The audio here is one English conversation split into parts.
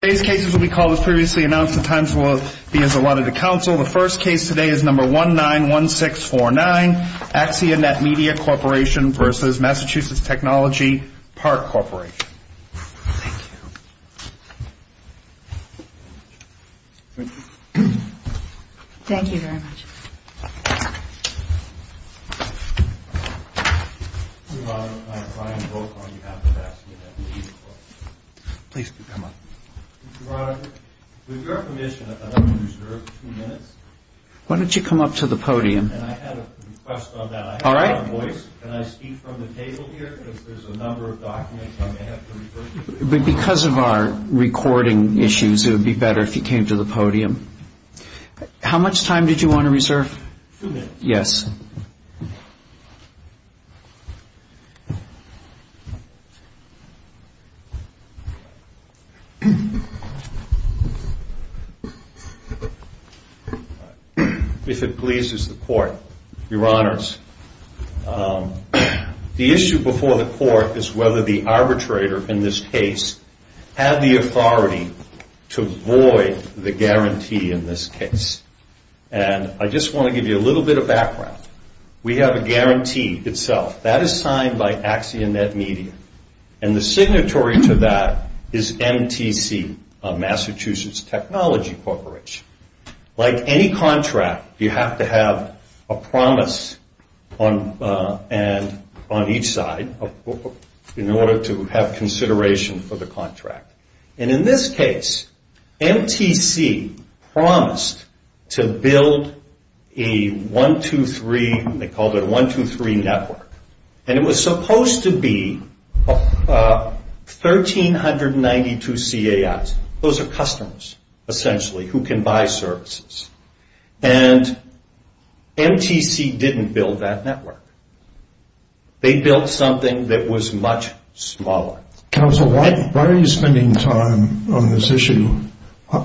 The first case today is number 191649, Axia NetMedia Corp. v. Mass. Technology Park Corp. Thank you. Thank you very much. Mr. Broderick, with your permission, I'd like to reserve two minutes. Why don't you come up to the podium? And I had a request on that. I have my voice. Can I speak from the table here? Because there's a number of documents I may have to refer to. Because of our recording issues, it would be better if you came to the podium. How much time did you want to reserve? Two minutes. Yes. If it pleases the Court, Your Honors, the issue before the Court is whether the arbitrator in this case had the authority to void the guarantee in this case. And I just want to give you a little bit of background. We have a guarantee itself. That is signed by Axia NetMedia. And the signatory to that is MTC, Mass. Technology Corporation. Like any contract, you have to have a promise on each side in order to have consideration for the contract. And in this case, MTC promised to build a 123, they called it a 123 network. And it was supposed to be 1,392 CAIs. Those are customers, essentially, who can buy services. And MTC didn't build that network. They built something that was much smaller. Counsel, why are you spending time on this issue? How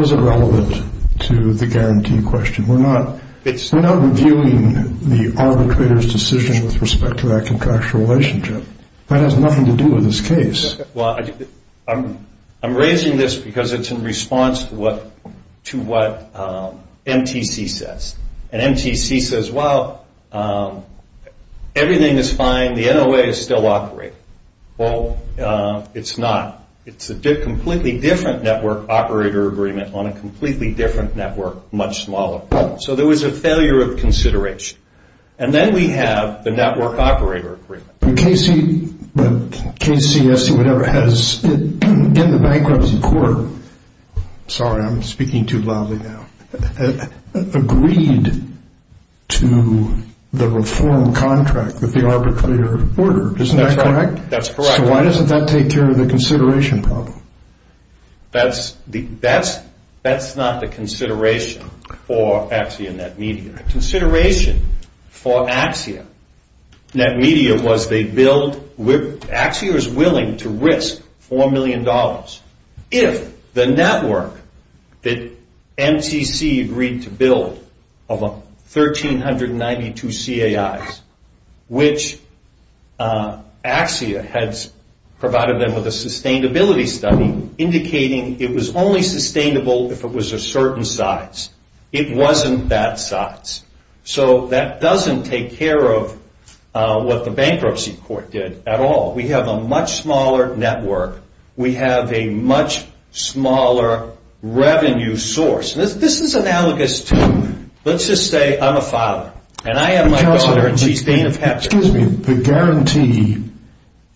is it relevant to the guarantee question? We're not reviewing the arbitrator's decision with respect to that contractual relationship. That has nothing to do with this case. Well, I'm raising this because it's in response to what MTC says. And MTC says, well, everything is fine. The NOA is still operating. Well, it's not. It's a completely different network operator agreement on a completely different network, much smaller. So there was a failure of consideration. And then we have the network operator agreement. KC, KCS, or whatever, has in the bankruptcy court, sorry, I'm speaking too loudly now, agreed to the reform contract that the arbitrator ordered. Isn't that correct? That's correct. So why doesn't that take care of the consideration problem? That's not the consideration for Axia NetMedia. Consideration for Axia NetMedia was they billed, Axia is willing to risk $4 million if the network that MTC agreed to bill of 1,392 CAIs, which Axia has provided them with a sustainability study indicating it was only sustainable if it was a certain size. It wasn't that size. So that doesn't take care of what the bankruptcy court did at all. We have a much smaller network. We have a much smaller revenue source. This is analogous to, let's just say I'm a father. And I have my daughter, and she's Dean of Hector. Excuse me. The guarantee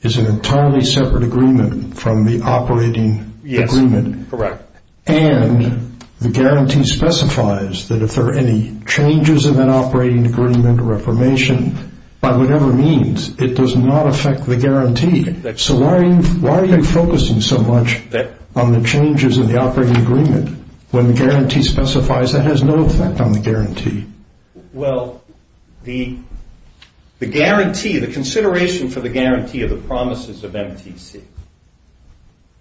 is an entirely separate agreement from the operating agreement. Yes, correct. And the guarantee specifies that if there are any changes in that operating agreement or reformation, by whatever means, it does not affect the guarantee. So why are you focusing so much on the changes in the operating agreement when the guarantee specifies it has no effect on the guarantee? Well, the guarantee, the consideration for the guarantee of the promises of MTC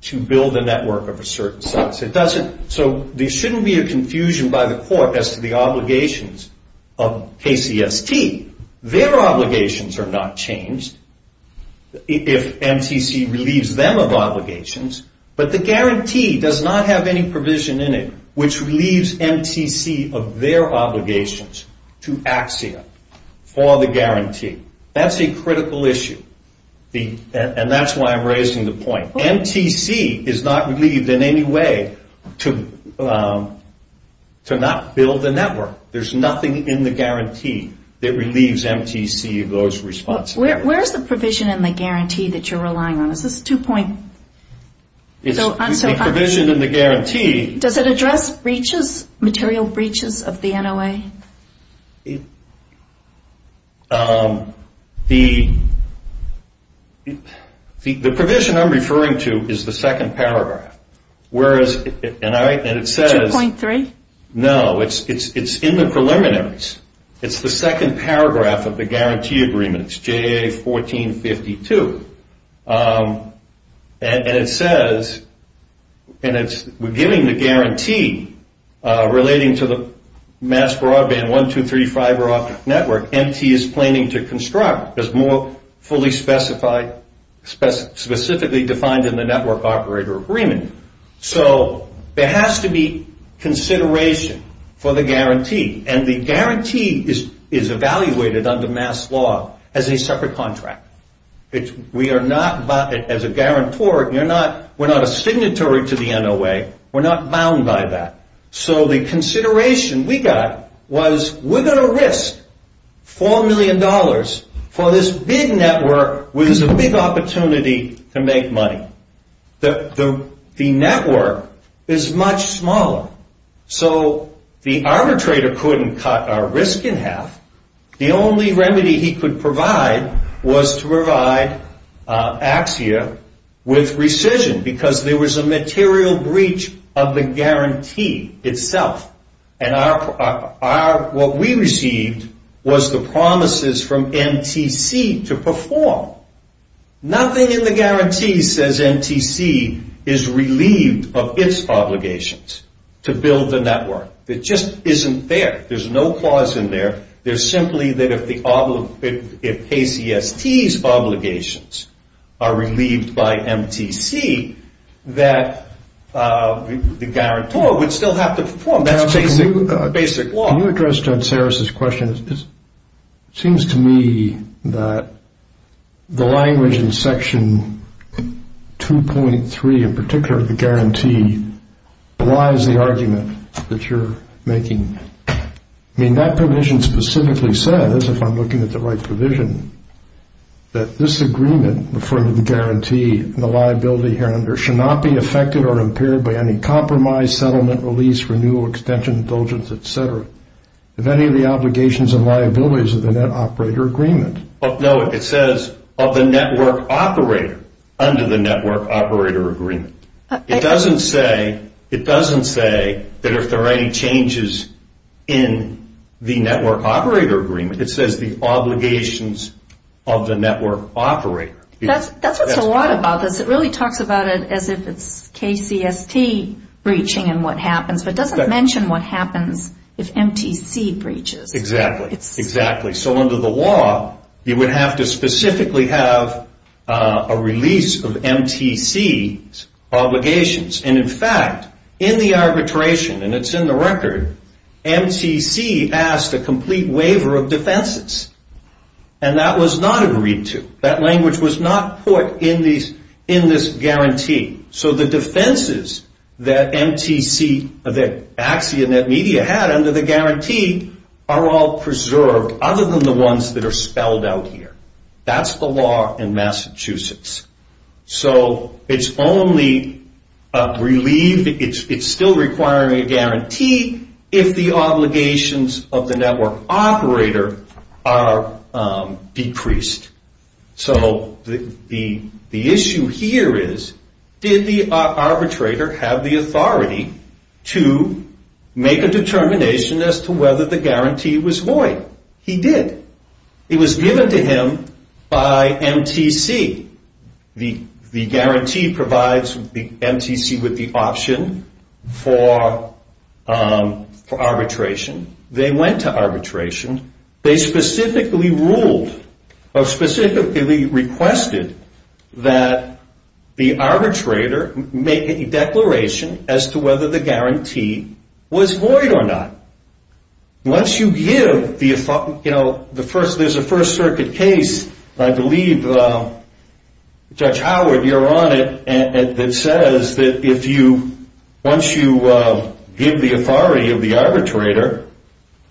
to build a network of a certain size. So there shouldn't be a confusion by the court as to the obligations of KCST. Their obligations are not changed if MTC relieves them of obligations. But the guarantee does not have any provision in it which relieves MTC of their obligations to Axia for the guarantee. That's a critical issue. And that's why I'm raising the point. MTC is not relieved in any way to not build a network. There's nothing in the guarantee that relieves MTC of those responsibilities. Where is the provision in the guarantee that you're relying on? Is this two-point? The provision in the guarantee. Does it address breaches, material breaches of the NOA? The provision I'm referring to is the second paragraph. Where is it? 2.3? No, it's in the preliminaries. It's the second paragraph of the guarantee agreement. It's JA 1452. And it says, and we're giving the guarantee relating to the mass broadband, one, two, three, fiber optic network, MT is planning to construct as more fully specified, specifically defined in the network operator agreement. So there has to be consideration for the guarantee. And the guarantee is evaluated under mass law as a separate contract. We are not, as a guarantor, we're not a signatory to the NOA. We're not bound by that. So the consideration we got was we're going to risk $4 million for this big network, which is a big opportunity to make money. The network is much smaller. So the arbitrator couldn't cut our risk in half. The only remedy he could provide was to provide AXIA with rescission because there was a material breach of the guarantee itself. And what we received was the promises from NTC to perform. Nothing in the guarantee says NTC is relieved of its obligations to build the network. It just isn't there. There's no clause in there. There's simply that if KCST's obligations are relieved by MTC, that the guarantor would still have to perform. That's basic law. Can you address Judge Sarris's question? It seems to me that the language in Section 2.3, in particular, the guarantee, relies the argument that you're making. I mean, that provision specifically says, if I'm looking at the right provision, that this agreement referring to the guarantee and the liability here under should not be affected or impaired by any compromise, settlement, release, renewal, extension, indulgence, et cetera, of any of the obligations and liabilities of the net operator agreement. No, it says of the network operator under the network operator agreement. It doesn't say that if there are any changes in the network operator agreement. It says the obligations of the network operator. That's what's a lot about this. It really talks about it as if it's KCST breaching and what happens, but it doesn't mention what happens if MTC breaches. Exactly. So under the law, you would have to specifically have a release of MTC's obligations. And, in fact, in the arbitration, and it's in the record, MTC asked a complete waiver of defenses, and that was not agreed to. That language was not put in this guarantee. So the defenses that MTC, that AXI and that media had under the guarantee, are all preserved other than the ones that are spelled out here. That's the law in Massachusetts. So it's only relieved, it's still requiring a guarantee, if the obligations of the network operator are decreased. So the issue here is, did the arbitrator have the authority to make a determination as to whether the guarantee was void? He did. It was given to him by MTC. The guarantee provides the MTC with the option for arbitration. They went to arbitration. They specifically ruled or specifically requested that the arbitrator make a declaration as to whether the guarantee was void or not. Once you give the authority, you know, there's a First Circuit case, I believe, Judge Howard, you're on it, that says that once you give the authority of the arbitrator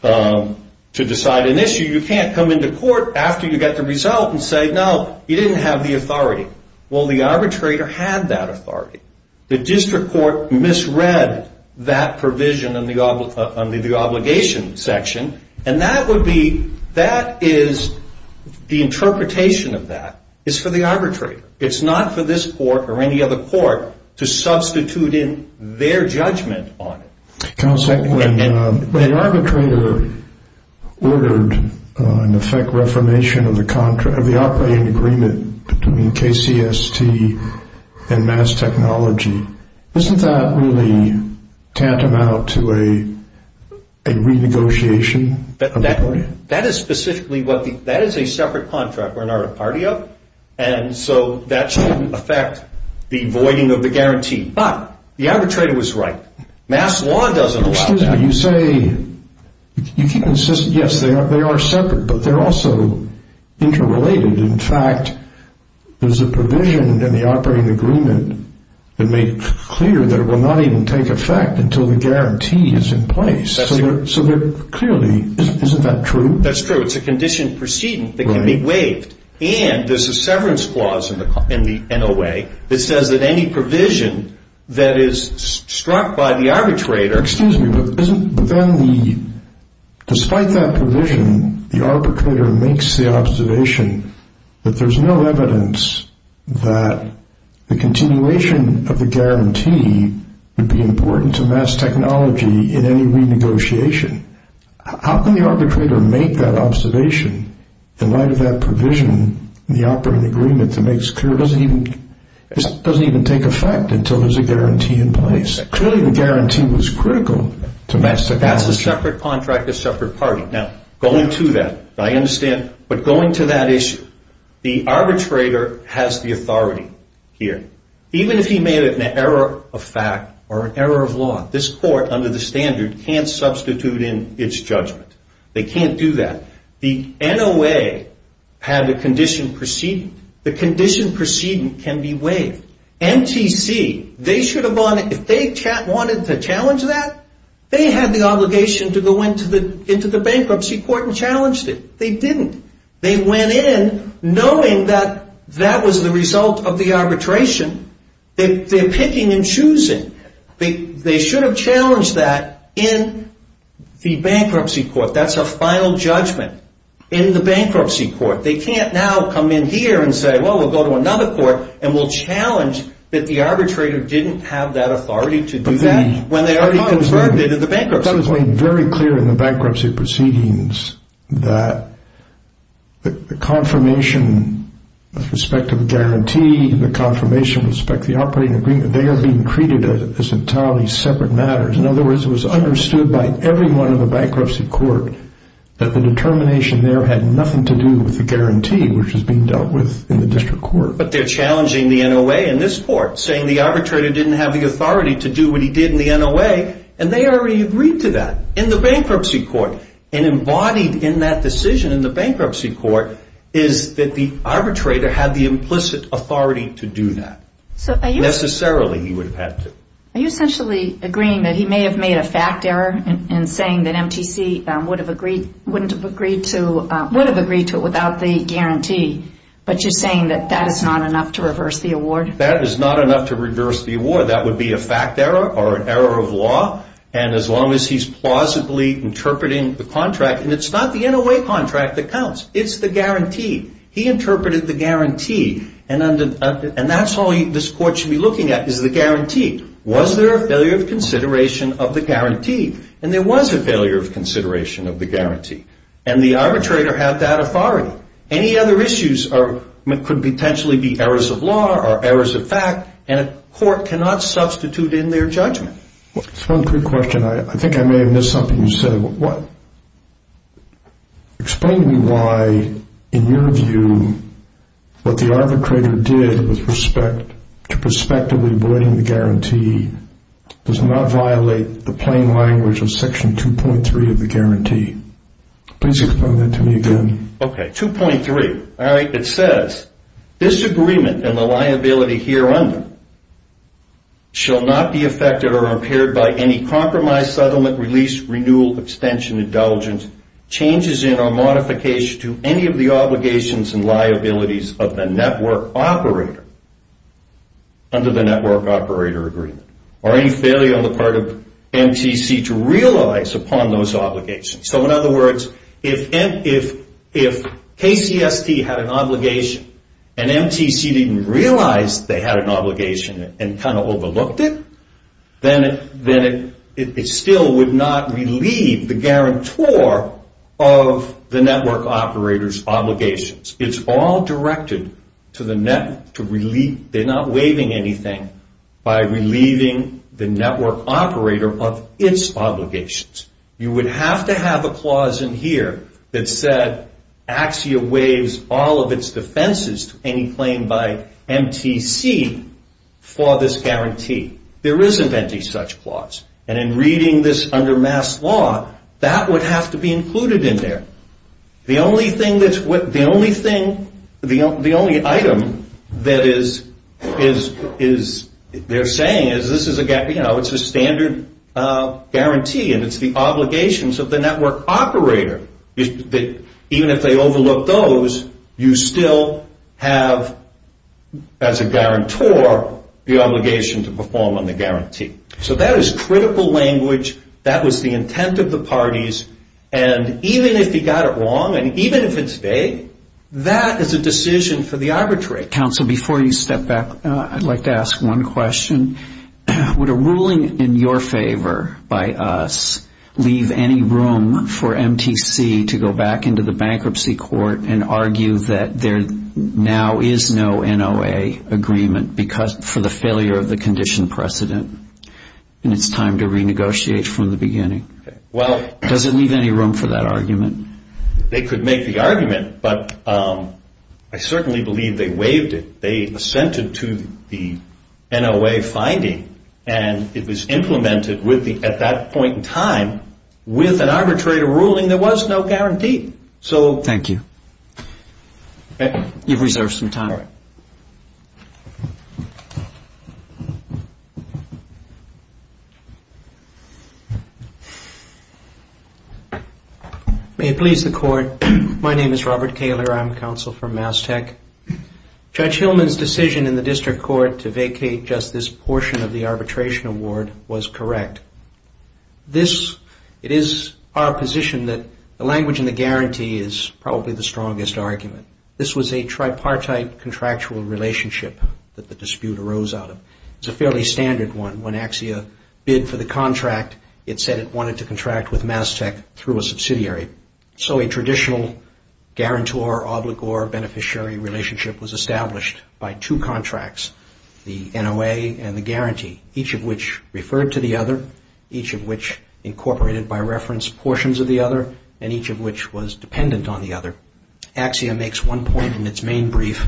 to decide an issue, you can't come into court after you get the result and say, no, you didn't have the authority. Well, the arbitrator had that authority. The district court misread that provision under the obligation section, and that is the interpretation of that. It's for the arbitrator. It's not for this court or any other court to substitute in their judgment on it. Counsel, when the arbitrator ordered an effect reformation of the operating agreement between KCST and Mass Technology, isn't that really tantamount to a renegotiation? That is specifically what the – that is a separate contract we're not a party of, and so that shouldn't affect the voiding of the guarantee. But the arbitrator was right. Mass law doesn't allow that. Excuse me. You say – you keep insisting, yes, they are separate, but they're also interrelated. In fact, there's a provision in the operating agreement that made clear that it will not even take effect until the guarantee is in place. That's true. So clearly, isn't that true? That's true. It's a conditioned precedent that can be waived, and there's a severance clause in the NOA that says that any provision that is struck by the arbitrator – Excuse me, but isn't – but then the – despite that provision, the arbitrator makes the observation that there's no evidence that the continuation of the guarantee would be important to Mass Technology in any renegotiation. How can the arbitrator make that observation in light of that provision in the operating agreement that makes clear it doesn't even take effect until there's a guarantee in place? Clearly, the guarantee was critical to Mass Technology. That's a separate contract, a separate party. Now, going to that, I understand, but going to that issue, the arbitrator has the authority here. Even if he made an error of fact or an error of law, this court, under the standard, can't substitute in its judgment. They can't do that. The NOA had a conditioned precedent. The conditioned precedent can be waived. MTC, they should have – if they wanted to challenge that, they had the obligation to go into the bankruptcy court and challenged it. They didn't. They went in knowing that that was the result of the arbitration. They're picking and choosing. They should have challenged that in the bankruptcy court. That's a final judgment in the bankruptcy court. They can't now come in here and say, well, we'll go to another court and we'll challenge that the arbitrator didn't have that authority to do that when they already confirmed it in the bankruptcy court. That was made very clear in the bankruptcy proceedings, that the confirmation with respect to the guarantee, the confirmation with respect to the operating agreement, they are being treated as entirely separate matters. In other words, it was understood by everyone in the bankruptcy court that the determination there had nothing to do with the guarantee, which is being dealt with in the district court. But they're challenging the NOA in this court, saying the arbitrator didn't have the authority to do what he did in the NOA, and they already agreed to that in the bankruptcy court. And embodied in that decision in the bankruptcy court is that the arbitrator had the implicit authority to do that. Necessarily, he would have had to. Are you essentially agreeing that he may have made a fact error in saying that MTC would have agreed to it without the guarantee, but you're saying that that is not enough to reverse the award? That is not enough to reverse the award. That would be a fact error or an error of law. And as long as he's plausibly interpreting the contract, and it's not the NOA contract that counts. It's the guarantee. He interpreted the guarantee, and that's all this court should be looking at is the guarantee. Was there a failure of consideration of the guarantee? And there was a failure of consideration of the guarantee. And the arbitrator had that authority. Any other issues could potentially be errors of law or errors of fact, and a court cannot substitute in their judgment. Just one quick question. I think I may have missed something you said. Explain to me why, in your view, what the arbitrator did with respect to prospectively avoiding the guarantee does not violate the plain language of Section 2.3 of the guarantee. Please explain that to me again. Okay, 2.3. It says, This agreement and the liability here under it shall not be affected or impaired by any compromise, settlement, release, renewal, extension, indulgence, changes in or modification to any of the obligations and liabilities of the network operator under the Network Operator Agreement, or any failure on the part of MTC to realize upon those obligations. So, in other words, if KCST had an obligation and MTC didn't realize they had an obligation and kind of overlooked it, then it still would not relieve the guarantor of the network operator's obligations. It's all directed to the network. They're not waiving anything by relieving the network operator of its obligations. You would have to have a clause in here that said, AXIA waives all of its defenses to any claim by MTC for this guarantee. There isn't any such clause. And in reading this under MAS law, that would have to be included in there. The only item that they're saying is this is a standard guarantee and it's the obligations of the network operator. Even if they overlook those, you still have, as a guarantor, the obligation to perform on the guarantee. So that is critical language. That was the intent of the parties. And even if he got it wrong and even if it's vague, that is a decision for the arbitrary. Counsel, before you step back, I'd like to ask one question. Would a ruling in your favor by us leave any room for MTC to go back into the bankruptcy court and argue that there now is no NOA agreement for the failure of the condition precedent and it's time to renegotiate from the beginning? Does it leave any room for that argument? They could make the argument, but I certainly believe they waived it. They assented to the NOA finding and it was implemented at that point in time with an arbitrary ruling there was no guarantee. Thank you. You've reserved some time. May it please the Court. My name is Robert Kaler. I'm counsel for Mass Tech. Judge Hillman's decision in the district court to vacate just this portion of the arbitration award was correct. It is our position that the language in the guarantee is probably the strongest argument. This was a tripartite contractual relationship that the dispute arose out of. It's a fairly standard one. When AXIA bid for the contract, it said it wanted to contract with Mass Tech through a subsidiary. So a traditional guarantor-obligor beneficiary relationship was established by two contracts, the NOA and the guarantee, each of which referred to the other, each of which incorporated by reference portions of the other, and each of which was dependent on the other. AXIA makes one point in its main brief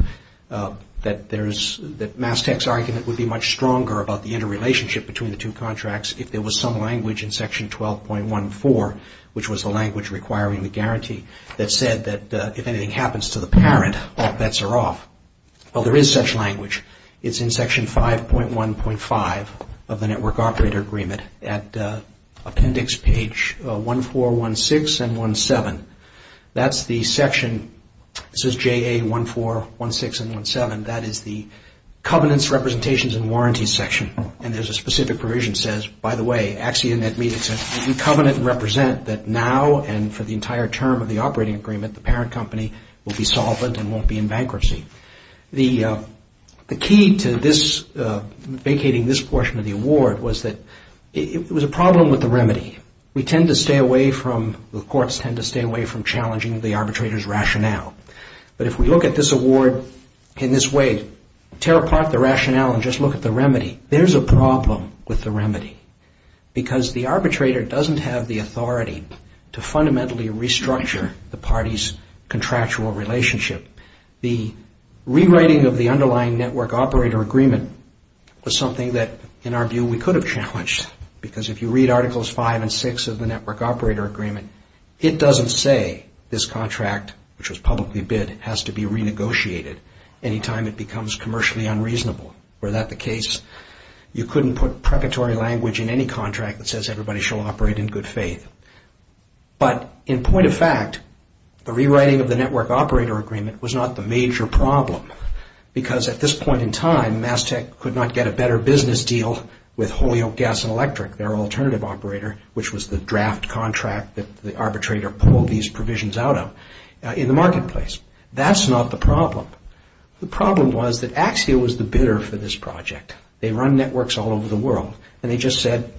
that Mass Tech's argument would be much stronger about the interrelationship between the two contracts if there was some language in section 12.14, which was the language requiring the guarantee, that said that if anything happens to the parent, all bets are off. Well, there is such language. It's in section 5.1.5 of the Network Operator Agreement at appendix page 1416 and 17. That's the section. This is JA1416 and 17. That is the covenants, representations, and warranties section. And there's a specific provision that says, by the way, AXIA did not meet its covenant to represent that now and for the entire term of the operating agreement, the parent company will be solvent and won't be in bankruptcy. The key to vacating this portion of the award was that it was a problem with the remedy. We tend to stay away from, the courts tend to stay away from challenging the arbitrator's rationale. But if we look at this award in this way, tear apart the rationale and just look at the remedy, there's a problem with the remedy because the arbitrator doesn't have the authority to fundamentally restructure the party's contractual relationship. The rewriting of the underlying Network Operator Agreement was something that, in our view, we could have challenged because if you read Articles 5 and 6 of the Network Operator Agreement, it doesn't say this contract, which was publicly bid, has to be renegotiated any time it becomes commercially unreasonable. Were that the case, you couldn't put preparatory language in any contract that says everybody shall operate in good faith. But in point of fact, the rewriting of the Network Operator Agreement was not the major problem because at this point in time, Mass Tech could not get a better business deal with Holyoke Gas and Electric, their alternative operator, which was the draft contract that the arbitrator pulled these provisions out of in the marketplace. That's not the problem. The problem was that Axio was the bidder for this project. They run networks all over the world and they just said,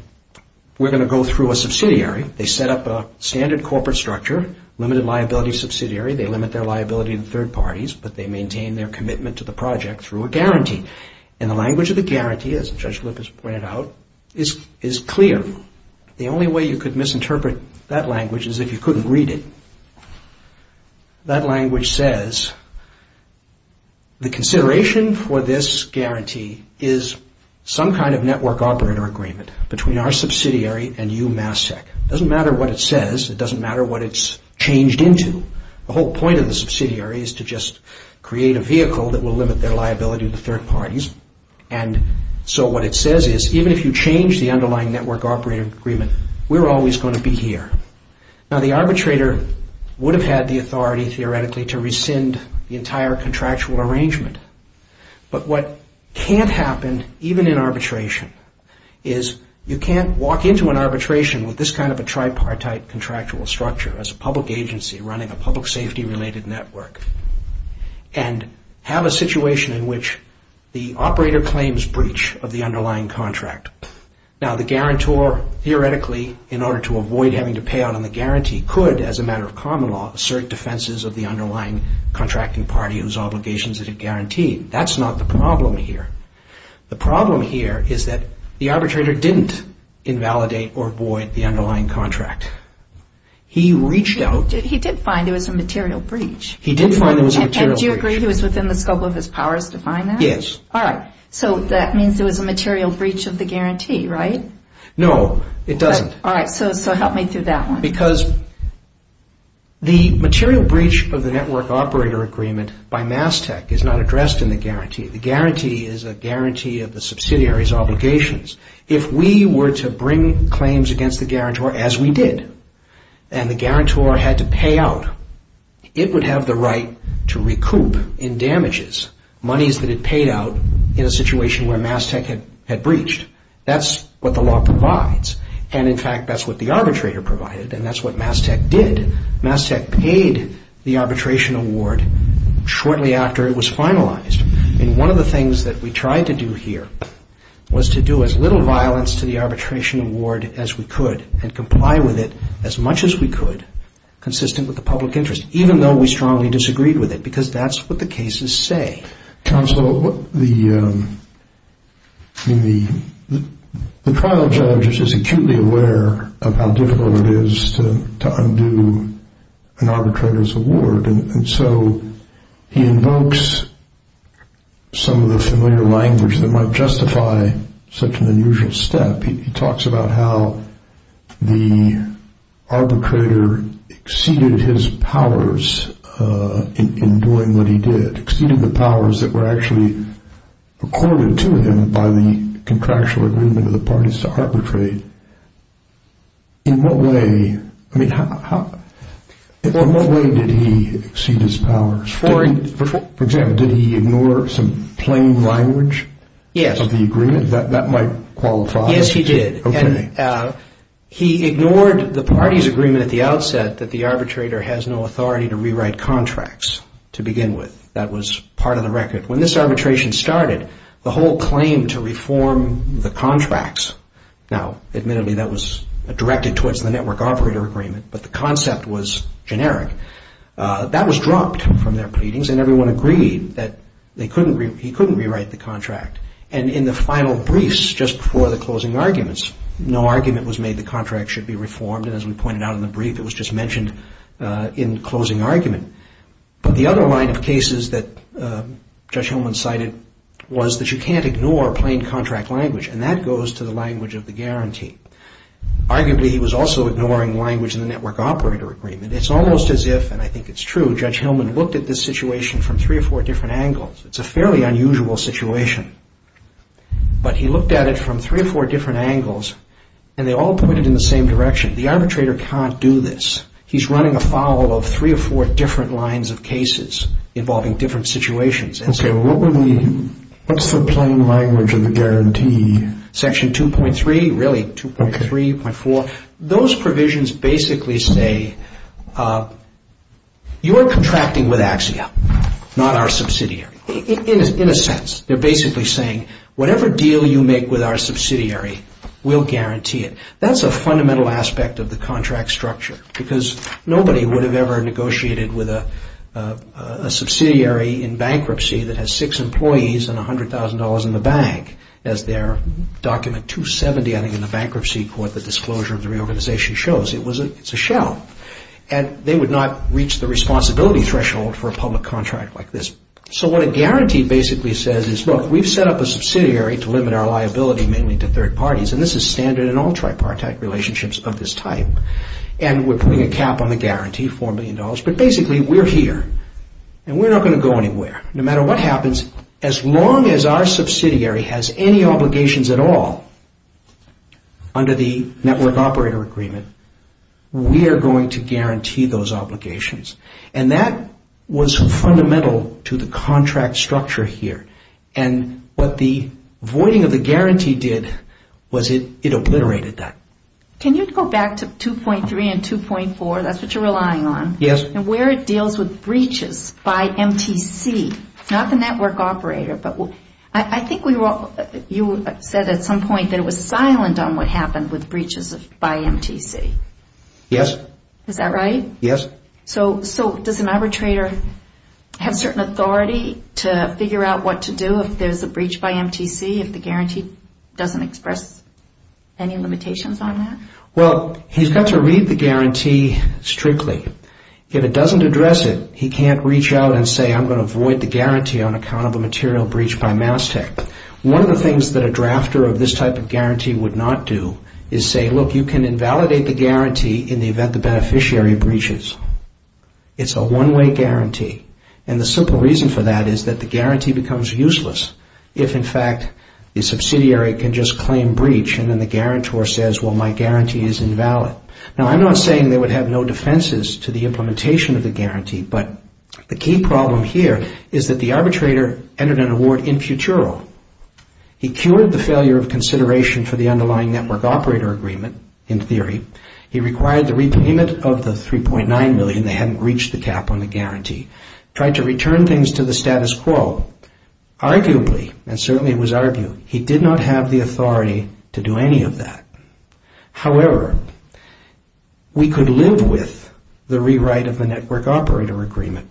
we're going to go through a subsidiary. They set up a standard corporate structure, limited liability subsidiary. They limit their liability to third parties, but they maintain their commitment to the project through a guarantee. And the language of the guarantee, as Judge Lippis pointed out, is clear. The only way you could misinterpret that language is if you couldn't read it. That language says the consideration for this guarantee is some kind of Network Operator Agreement between our subsidiary and you, Mass Tech. It doesn't matter what it says. It doesn't matter what it's changed into. The whole point of the subsidiary is to just create a vehicle that will limit their liability to third parties. And so what it says is, even if you change the underlying Network Operator Agreement, we're always going to be here. Now, the arbitrator would have had the authority, theoretically, to rescind the entire contractual arrangement. But what can't happen, even in arbitration, is you can't walk into an arbitration with this kind of a tripartite contractual structure, as a public agency running a public safety-related network, and have a situation in which the operator claims breach of the underlying contract. Now, the guarantor, theoretically, in order to avoid having to pay out on the guarantee, could, as a matter of common law, assert defenses of the underlying contracting party whose obligations it had guaranteed. That's not the problem here. The problem here is that the arbitrator didn't invalidate or void the underlying contract. He reached out... He did find there was a material breach. He did find there was a material breach. And do you agree he was within the scope of his powers to find that? Yes. All right. So that means there was a material breach of the guarantee, right? No, it doesn't. All right. So help me through that one. The guarantee is a guarantee of the subsidiary's obligations. If we were to bring claims against the guarantor, as we did, and the guarantor had to pay out, it would have the right to recoup in damages, monies that it paid out in a situation where Mass Tech had breached. That's what the law provides. And, in fact, that's what the arbitrator provided, and that's what Mass Tech did. Mass Tech paid the arbitration award shortly after it was finalized. And one of the things that we tried to do here was to do as little violence to the arbitration award as we could and comply with it as much as we could, consistent with the public interest, even though we strongly disagreed with it, because that's what the cases say. Counsel, the trial judge is acutely aware of how difficult it is to undo an arbitrator's award, and so he invokes some of the familiar language that might justify such an unusual step. He talks about how the arbitrator exceeded his powers in doing what he did, exceeding the powers that were actually accorded to him by the contractual agreement of the parties to arbitrate. In what way did he exceed his powers? For example, did he ignore some plain language of the agreement that might qualify? Yes, he did. He ignored the parties' agreement at the outset that the arbitrator has no authority to rewrite contracts to begin with. That was part of the record. When this arbitration started, the whole claim to reform the contracts, now admittedly that was directed towards the network operator agreement, but the concept was generic, that was dropped from their pleadings, and everyone agreed that he couldn't rewrite the contract. And in the final briefs just before the closing arguments, no argument was made the contract should be reformed, and as we pointed out in the brief, it was just mentioned in closing argument. But the other line of cases that Judge Hillman cited was that you can't ignore plain contract language, and that goes to the language of the guarantee. Arguably, he was also ignoring language in the network operator agreement. It's almost as if, and I think it's true, Judge Hillman looked at this situation from three or four different angles. It's a fairly unusual situation, but he looked at it from three or four different angles, and they all pointed in the same direction. The arbitrator can't do this. He's running afoul of three or four different lines of cases involving different situations. Okay, what's the plain language of the guarantee? Section 2.3, really, 2.3, 2.4, those provisions basically say you are contracting with Axia, not our subsidiary. In a sense, they're basically saying whatever deal you make with our subsidiary, we'll guarantee it. That's a fundamental aspect of the contract structure, because nobody would have ever negotiated with a subsidiary in bankruptcy that has six employees and $100,000 in the bank as their document 270, I think, in the bankruptcy court, the disclosure of the reorganization shows. It's a shell, and they would not reach the responsibility threshold for a public contract like this. So what a guarantee basically says is, look, we've set up a subsidiary to limit our liability mainly to third parties, and this is standard in all tripartite relationships of this type, and we're putting a cap on the guarantee, $4 million, but basically we're here, and we're not going to go anywhere. No matter what happens, as long as our subsidiary has any obligations at all under the network operator agreement, we are going to guarantee those obligations. And that was fundamental to the contract structure here, and what the voiding of the guarantee did was it obliterated that. Can you go back to 2.3 and 2.4, that's what you're relying on, and where it deals with breaches by MTC, not the network operator, but I think you said at some point that it was silent on what happened with breaches by MTC. Yes. Is that right? Yes. Okay. So does an arbitrator have certain authority to figure out what to do if there's a breach by MTC, if the guarantee doesn't express any limitations on that? Well, he's got to read the guarantee strictly. If it doesn't address it, he can't reach out and say, I'm going to void the guarantee on account of a material breach by MassTech. One of the things that a drafter of this type of guarantee would not do is say, look, you can invalidate the guarantee in the event the beneficiary breaches. It's a one-way guarantee. And the simple reason for that is that the guarantee becomes useless if, in fact, the subsidiary can just claim breach, and then the guarantor says, well, my guarantee is invalid. Now, I'm not saying they would have no defenses to the implementation of the guarantee, but the key problem here is that the arbitrator entered an award in futuro. He cured the failure of consideration for the underlying network operator agreement, in theory. He required the repayment of the $3.9 million. They hadn't reached the cap on the guarantee. Tried to return things to the status quo. Arguably, and certainly it was argued, he did not have the authority to do any of that. However, we could live with the rewrite of the network operator agreement.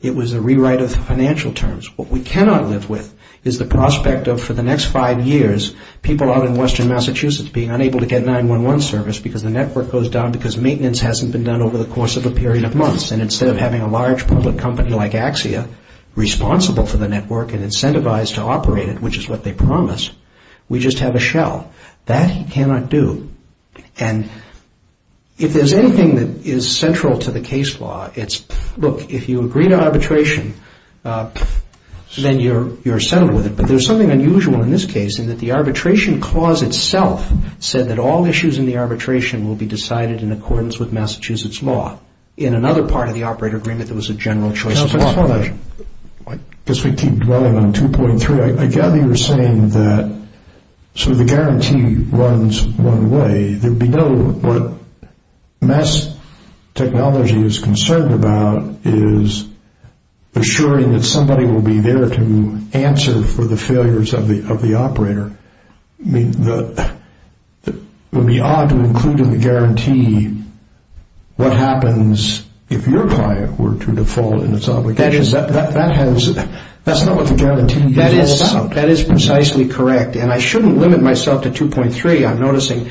It was a rewrite of financial terms. What we cannot live with is the prospect of, for the next five years, people out in western Massachusetts being unable to get 911 service because the network goes down because maintenance hasn't been done over the course of a period of months. And instead of having a large public company like Axia, responsible for the network and incentivized to operate it, which is what they promised, we just have a shell. That he cannot do. And if there's anything that is central to the case law, it's, look, if you agree to arbitration, then you're settled with it. But there's something unusual in this case, in that the arbitration clause itself said that all issues in the arbitration will be decided in accordance with Massachusetts law. In another part of the operator agreement, there was a general choice of law. I guess we keep dwelling on 2.3. I gather you're saying that, so the guarantee runs one way. What mass technology is concerned about is assuring that somebody will be there to answer for the failures of the operator. I mean, it would be odd to include in the guarantee what happens if your client were to default in its obligations. That's not what the guarantee is all about. That is precisely correct. And I shouldn't limit myself to 2.3. I'm noticing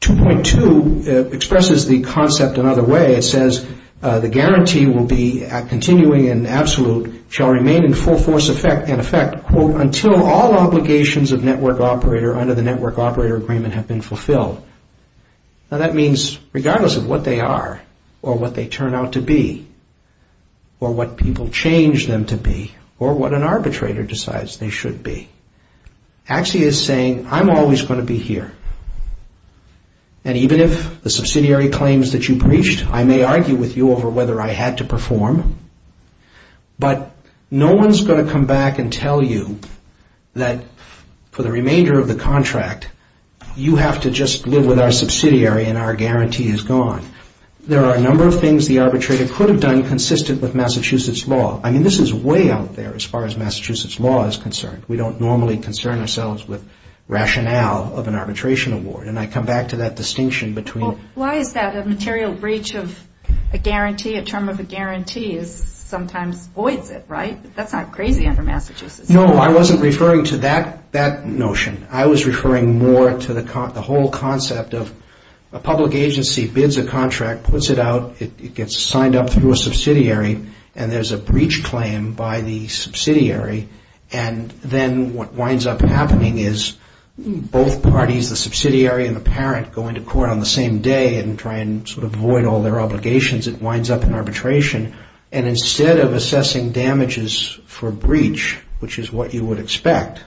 2.2 expresses the concept another way. It says the guarantee will be continuing in absolute, shall remain in full force in effect, quote, until all obligations of network operator under the network operator agreement have been fulfilled. Now, that means regardless of what they are or what they turn out to be or what people change them to be or what an arbitrator decides they should be, AXI is saying, I'm always going to be here. And even if the subsidiary claims that you breached, I may argue with you over whether I had to perform, but no one's going to come back and tell you that for the remainder of the contract, you have to just live with our subsidiary and our guarantee is gone. There are a number of things the arbitrator could have done consistent with Massachusetts law. I mean, this is way out there as far as Massachusetts law is concerned. We don't normally concern ourselves with rationale of an arbitration award. And I come back to that distinction between... Well, why is that? A material breach of a guarantee, a term of a guarantee, sometimes voids it, right? That's not crazy under Massachusetts law. No, I wasn't referring to that notion. I was referring more to the whole concept of a public agency bids a contract, puts it out, it gets signed up through a subsidiary, and there's a breach claim by the subsidiary and then what winds up happening is both parties, the subsidiary and the parent, go into court on the same day and try and sort of void all their obligations. It winds up in arbitration. And instead of assessing damages for breach, which is what you would expect,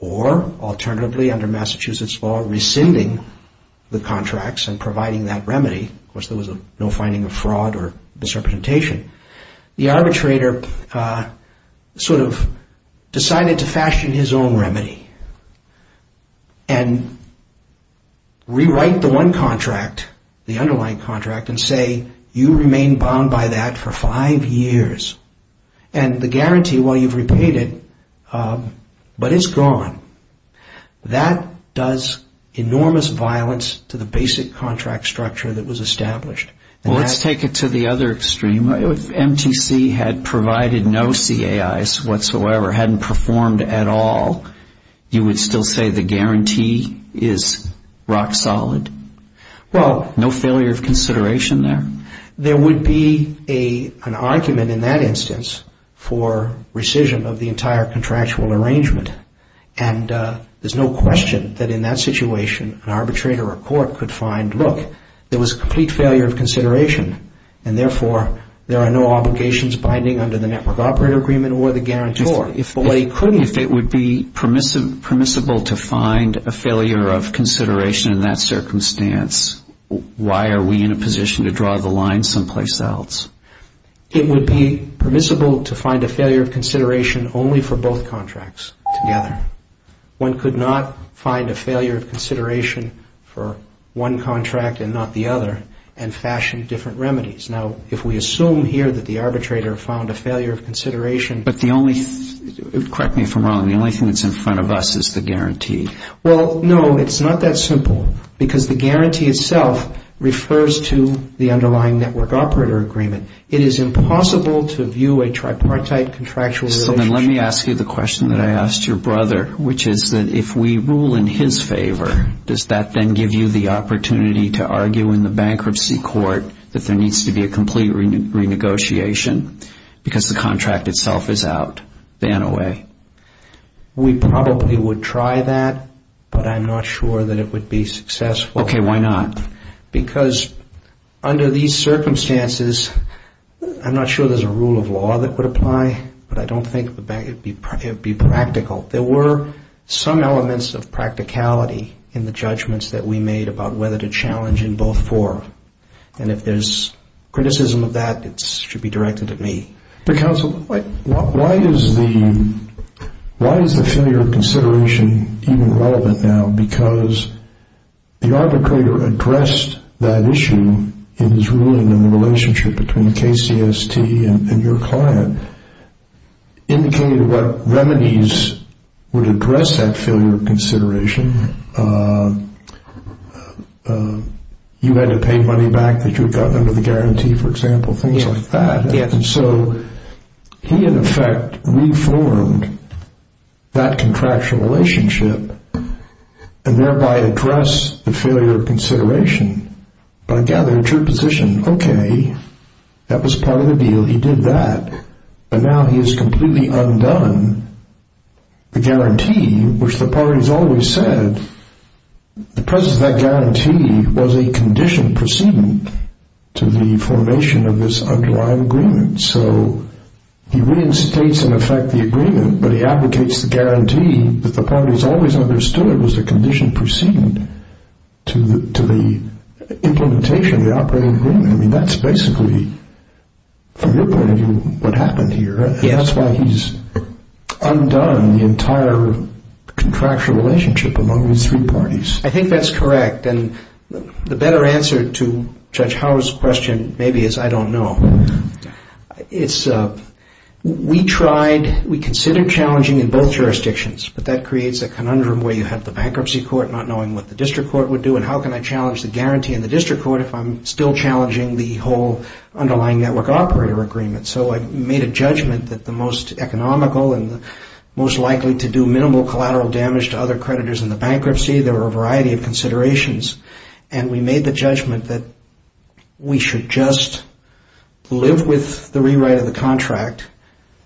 or alternatively under Massachusetts law, rescinding the contracts and providing that remedy, of course there was no finding of fraud or disrepresentation, the arbitrator sort of decided to fashion his own remedy and rewrite the one contract, the underlying contract, and say you remain bound by that for five years. And the guarantee, while you've repaid it, but it's gone. That does enormous violence to the basic contract structure that was established. Well, let's take it to the other extreme. If MTC had provided no CAIs whatsoever, hadn't performed at all, you would still say the guarantee is rock solid? Well, no failure of consideration there? There would be an argument in that instance for rescission of the entire contractual arrangement. And there's no question that in that situation an arbitrator or court could find, look, there was complete failure of consideration, and therefore there are no obligations binding under the Network Operator Agreement or the guarantor. If it would be permissible to find a failure of consideration in that circumstance, why are we in a position to draw the line someplace else? It would be permissible to find a failure of consideration only for both contracts together. One could not find a failure of consideration for one contract and not the other and fashion different remedies. Now, if we assume here that the arbitrator found a failure of consideration. But the only thing, correct me if I'm wrong, the only thing that's in front of us is the guarantee. Well, no, it's not that simple, because the guarantee itself refers to the underlying Network Operator Agreement. It is impossible to view a tripartite contractual relationship. Well, then let me ask you the question that I asked your brother, which is that if we rule in his favor, does that then give you the opportunity to argue in the bankruptcy court that there needs to be a complete renegotiation because the contract itself is out, ban away? We probably would try that, but I'm not sure that it would be successful. Okay, why not? Because under these circumstances, I'm not sure there's a rule of law that would apply, but I don't think it would be practical. There were some elements of practicality in the judgments that we made about whether to challenge in both four. And if there's criticism of that, it should be directed at me. Counsel, why is the failure of consideration even relevant now? Because the arbitrator addressed that issue in his ruling in the relationship between KCST and your client, indicated what remedies would address that failure of consideration. You had to pay money back that you had gotten under the guarantee, for example, things like that. And so he, in effect, reformed that contractual relationship and thereby addressed the failure of consideration. But I gather it's your position, okay, that was part of the deal. He did that, but now he has completely undone the guarantee, which the parties always said. The presence of that guarantee was a condition proceeding to the formation of this underlying agreement. So he reinstates, in effect, the agreement, but he advocates the guarantee that the parties always understood it was a condition proceeding to the implementation of the operating agreement. I mean, that's basically, from your point of view, what happened here. And that's why he's undone the entire contractual relationship among these three parties. I think that's correct. And the better answer to Judge Howard's question maybe is I don't know. It's we tried, we considered challenging in both jurisdictions, but that creates a conundrum where you have the bankruptcy court not knowing what the district court would do and how can I challenge the guarantee in the district court if I'm still challenging the whole underlying network operator agreement. So I made a judgment that the most economical and most likely to do minimal collateral damage to other creditors in the bankruptcy, there were a variety of considerations, and we made the judgment that we should just live with the rewrite of the contract,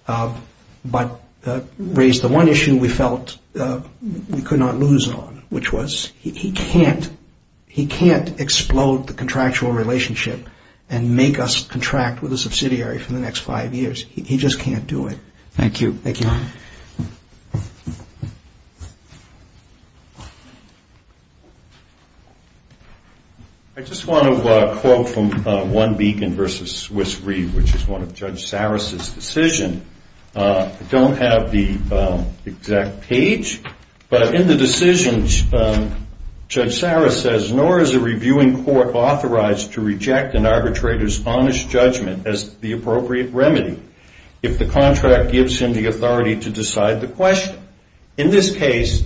but raise the one issue we felt we could not lose on, which was he can't explode the contractual relationship and make us contract with a subsidiary for the next five years. He just can't do it. Thank you. Thank you. I just want to quote from One Beacon v. Swiss Reed, which is one of Judge Saras' decisions. I don't have the exact page, but in the decision, Judge Saras says, nor is a reviewing court authorized to reject an arbitrator's honest judgment as the appropriate remedy if the contract gives him the authority to decide the question. In this case,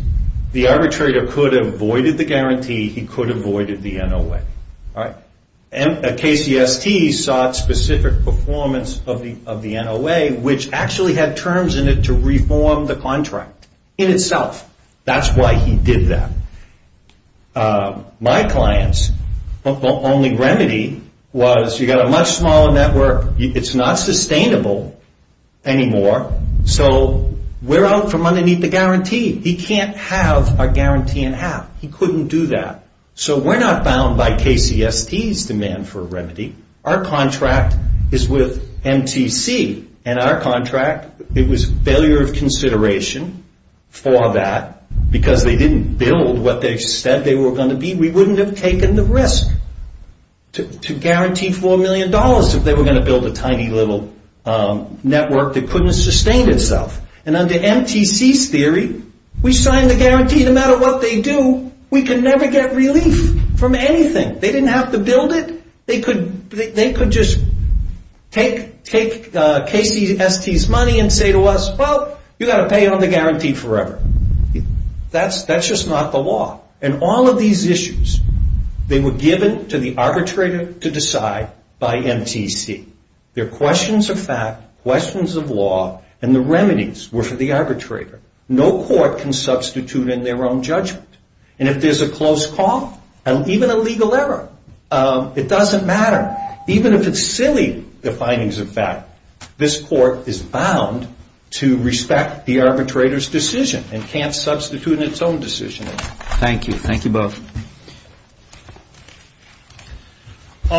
the arbitrator could have voided the guarantee. He could have voided the NOA. KCST sought specific performance of the NOA, which actually had terms in it to reform the contract in itself. That's why he did that. My client's only remedy was you've got a much smaller network. It's not sustainable anymore, so we're out from underneath the guarantee. He can't have our guarantee in half. He couldn't do that. So we're not bound by KCST's demand for a remedy. Our contract is with MTC, and our contract, it was failure of consideration for that because they didn't build what they said they were going to be. We wouldn't have taken the risk to guarantee $4 million if they were going to build a tiny little network that couldn't sustain itself. Under MTC's theory, we signed the guarantee. No matter what they do, we can never get relief from anything. They didn't have to build it. They could just take KCST's money and say to us, well, you've got to pay on the guarantee forever. That's just not the law. And all of these issues, they were given to the arbitrator to decide by MTC. They're questions of fact, questions of law, and the remedies were for the arbitrator. No court can substitute in their own judgment. And if there's a close call and even a legal error, it doesn't matter. Even if it's silly, the findings of fact, this court is bound to respect the arbitrator's decision and can't substitute in its own decision. Thank you. Thank you both.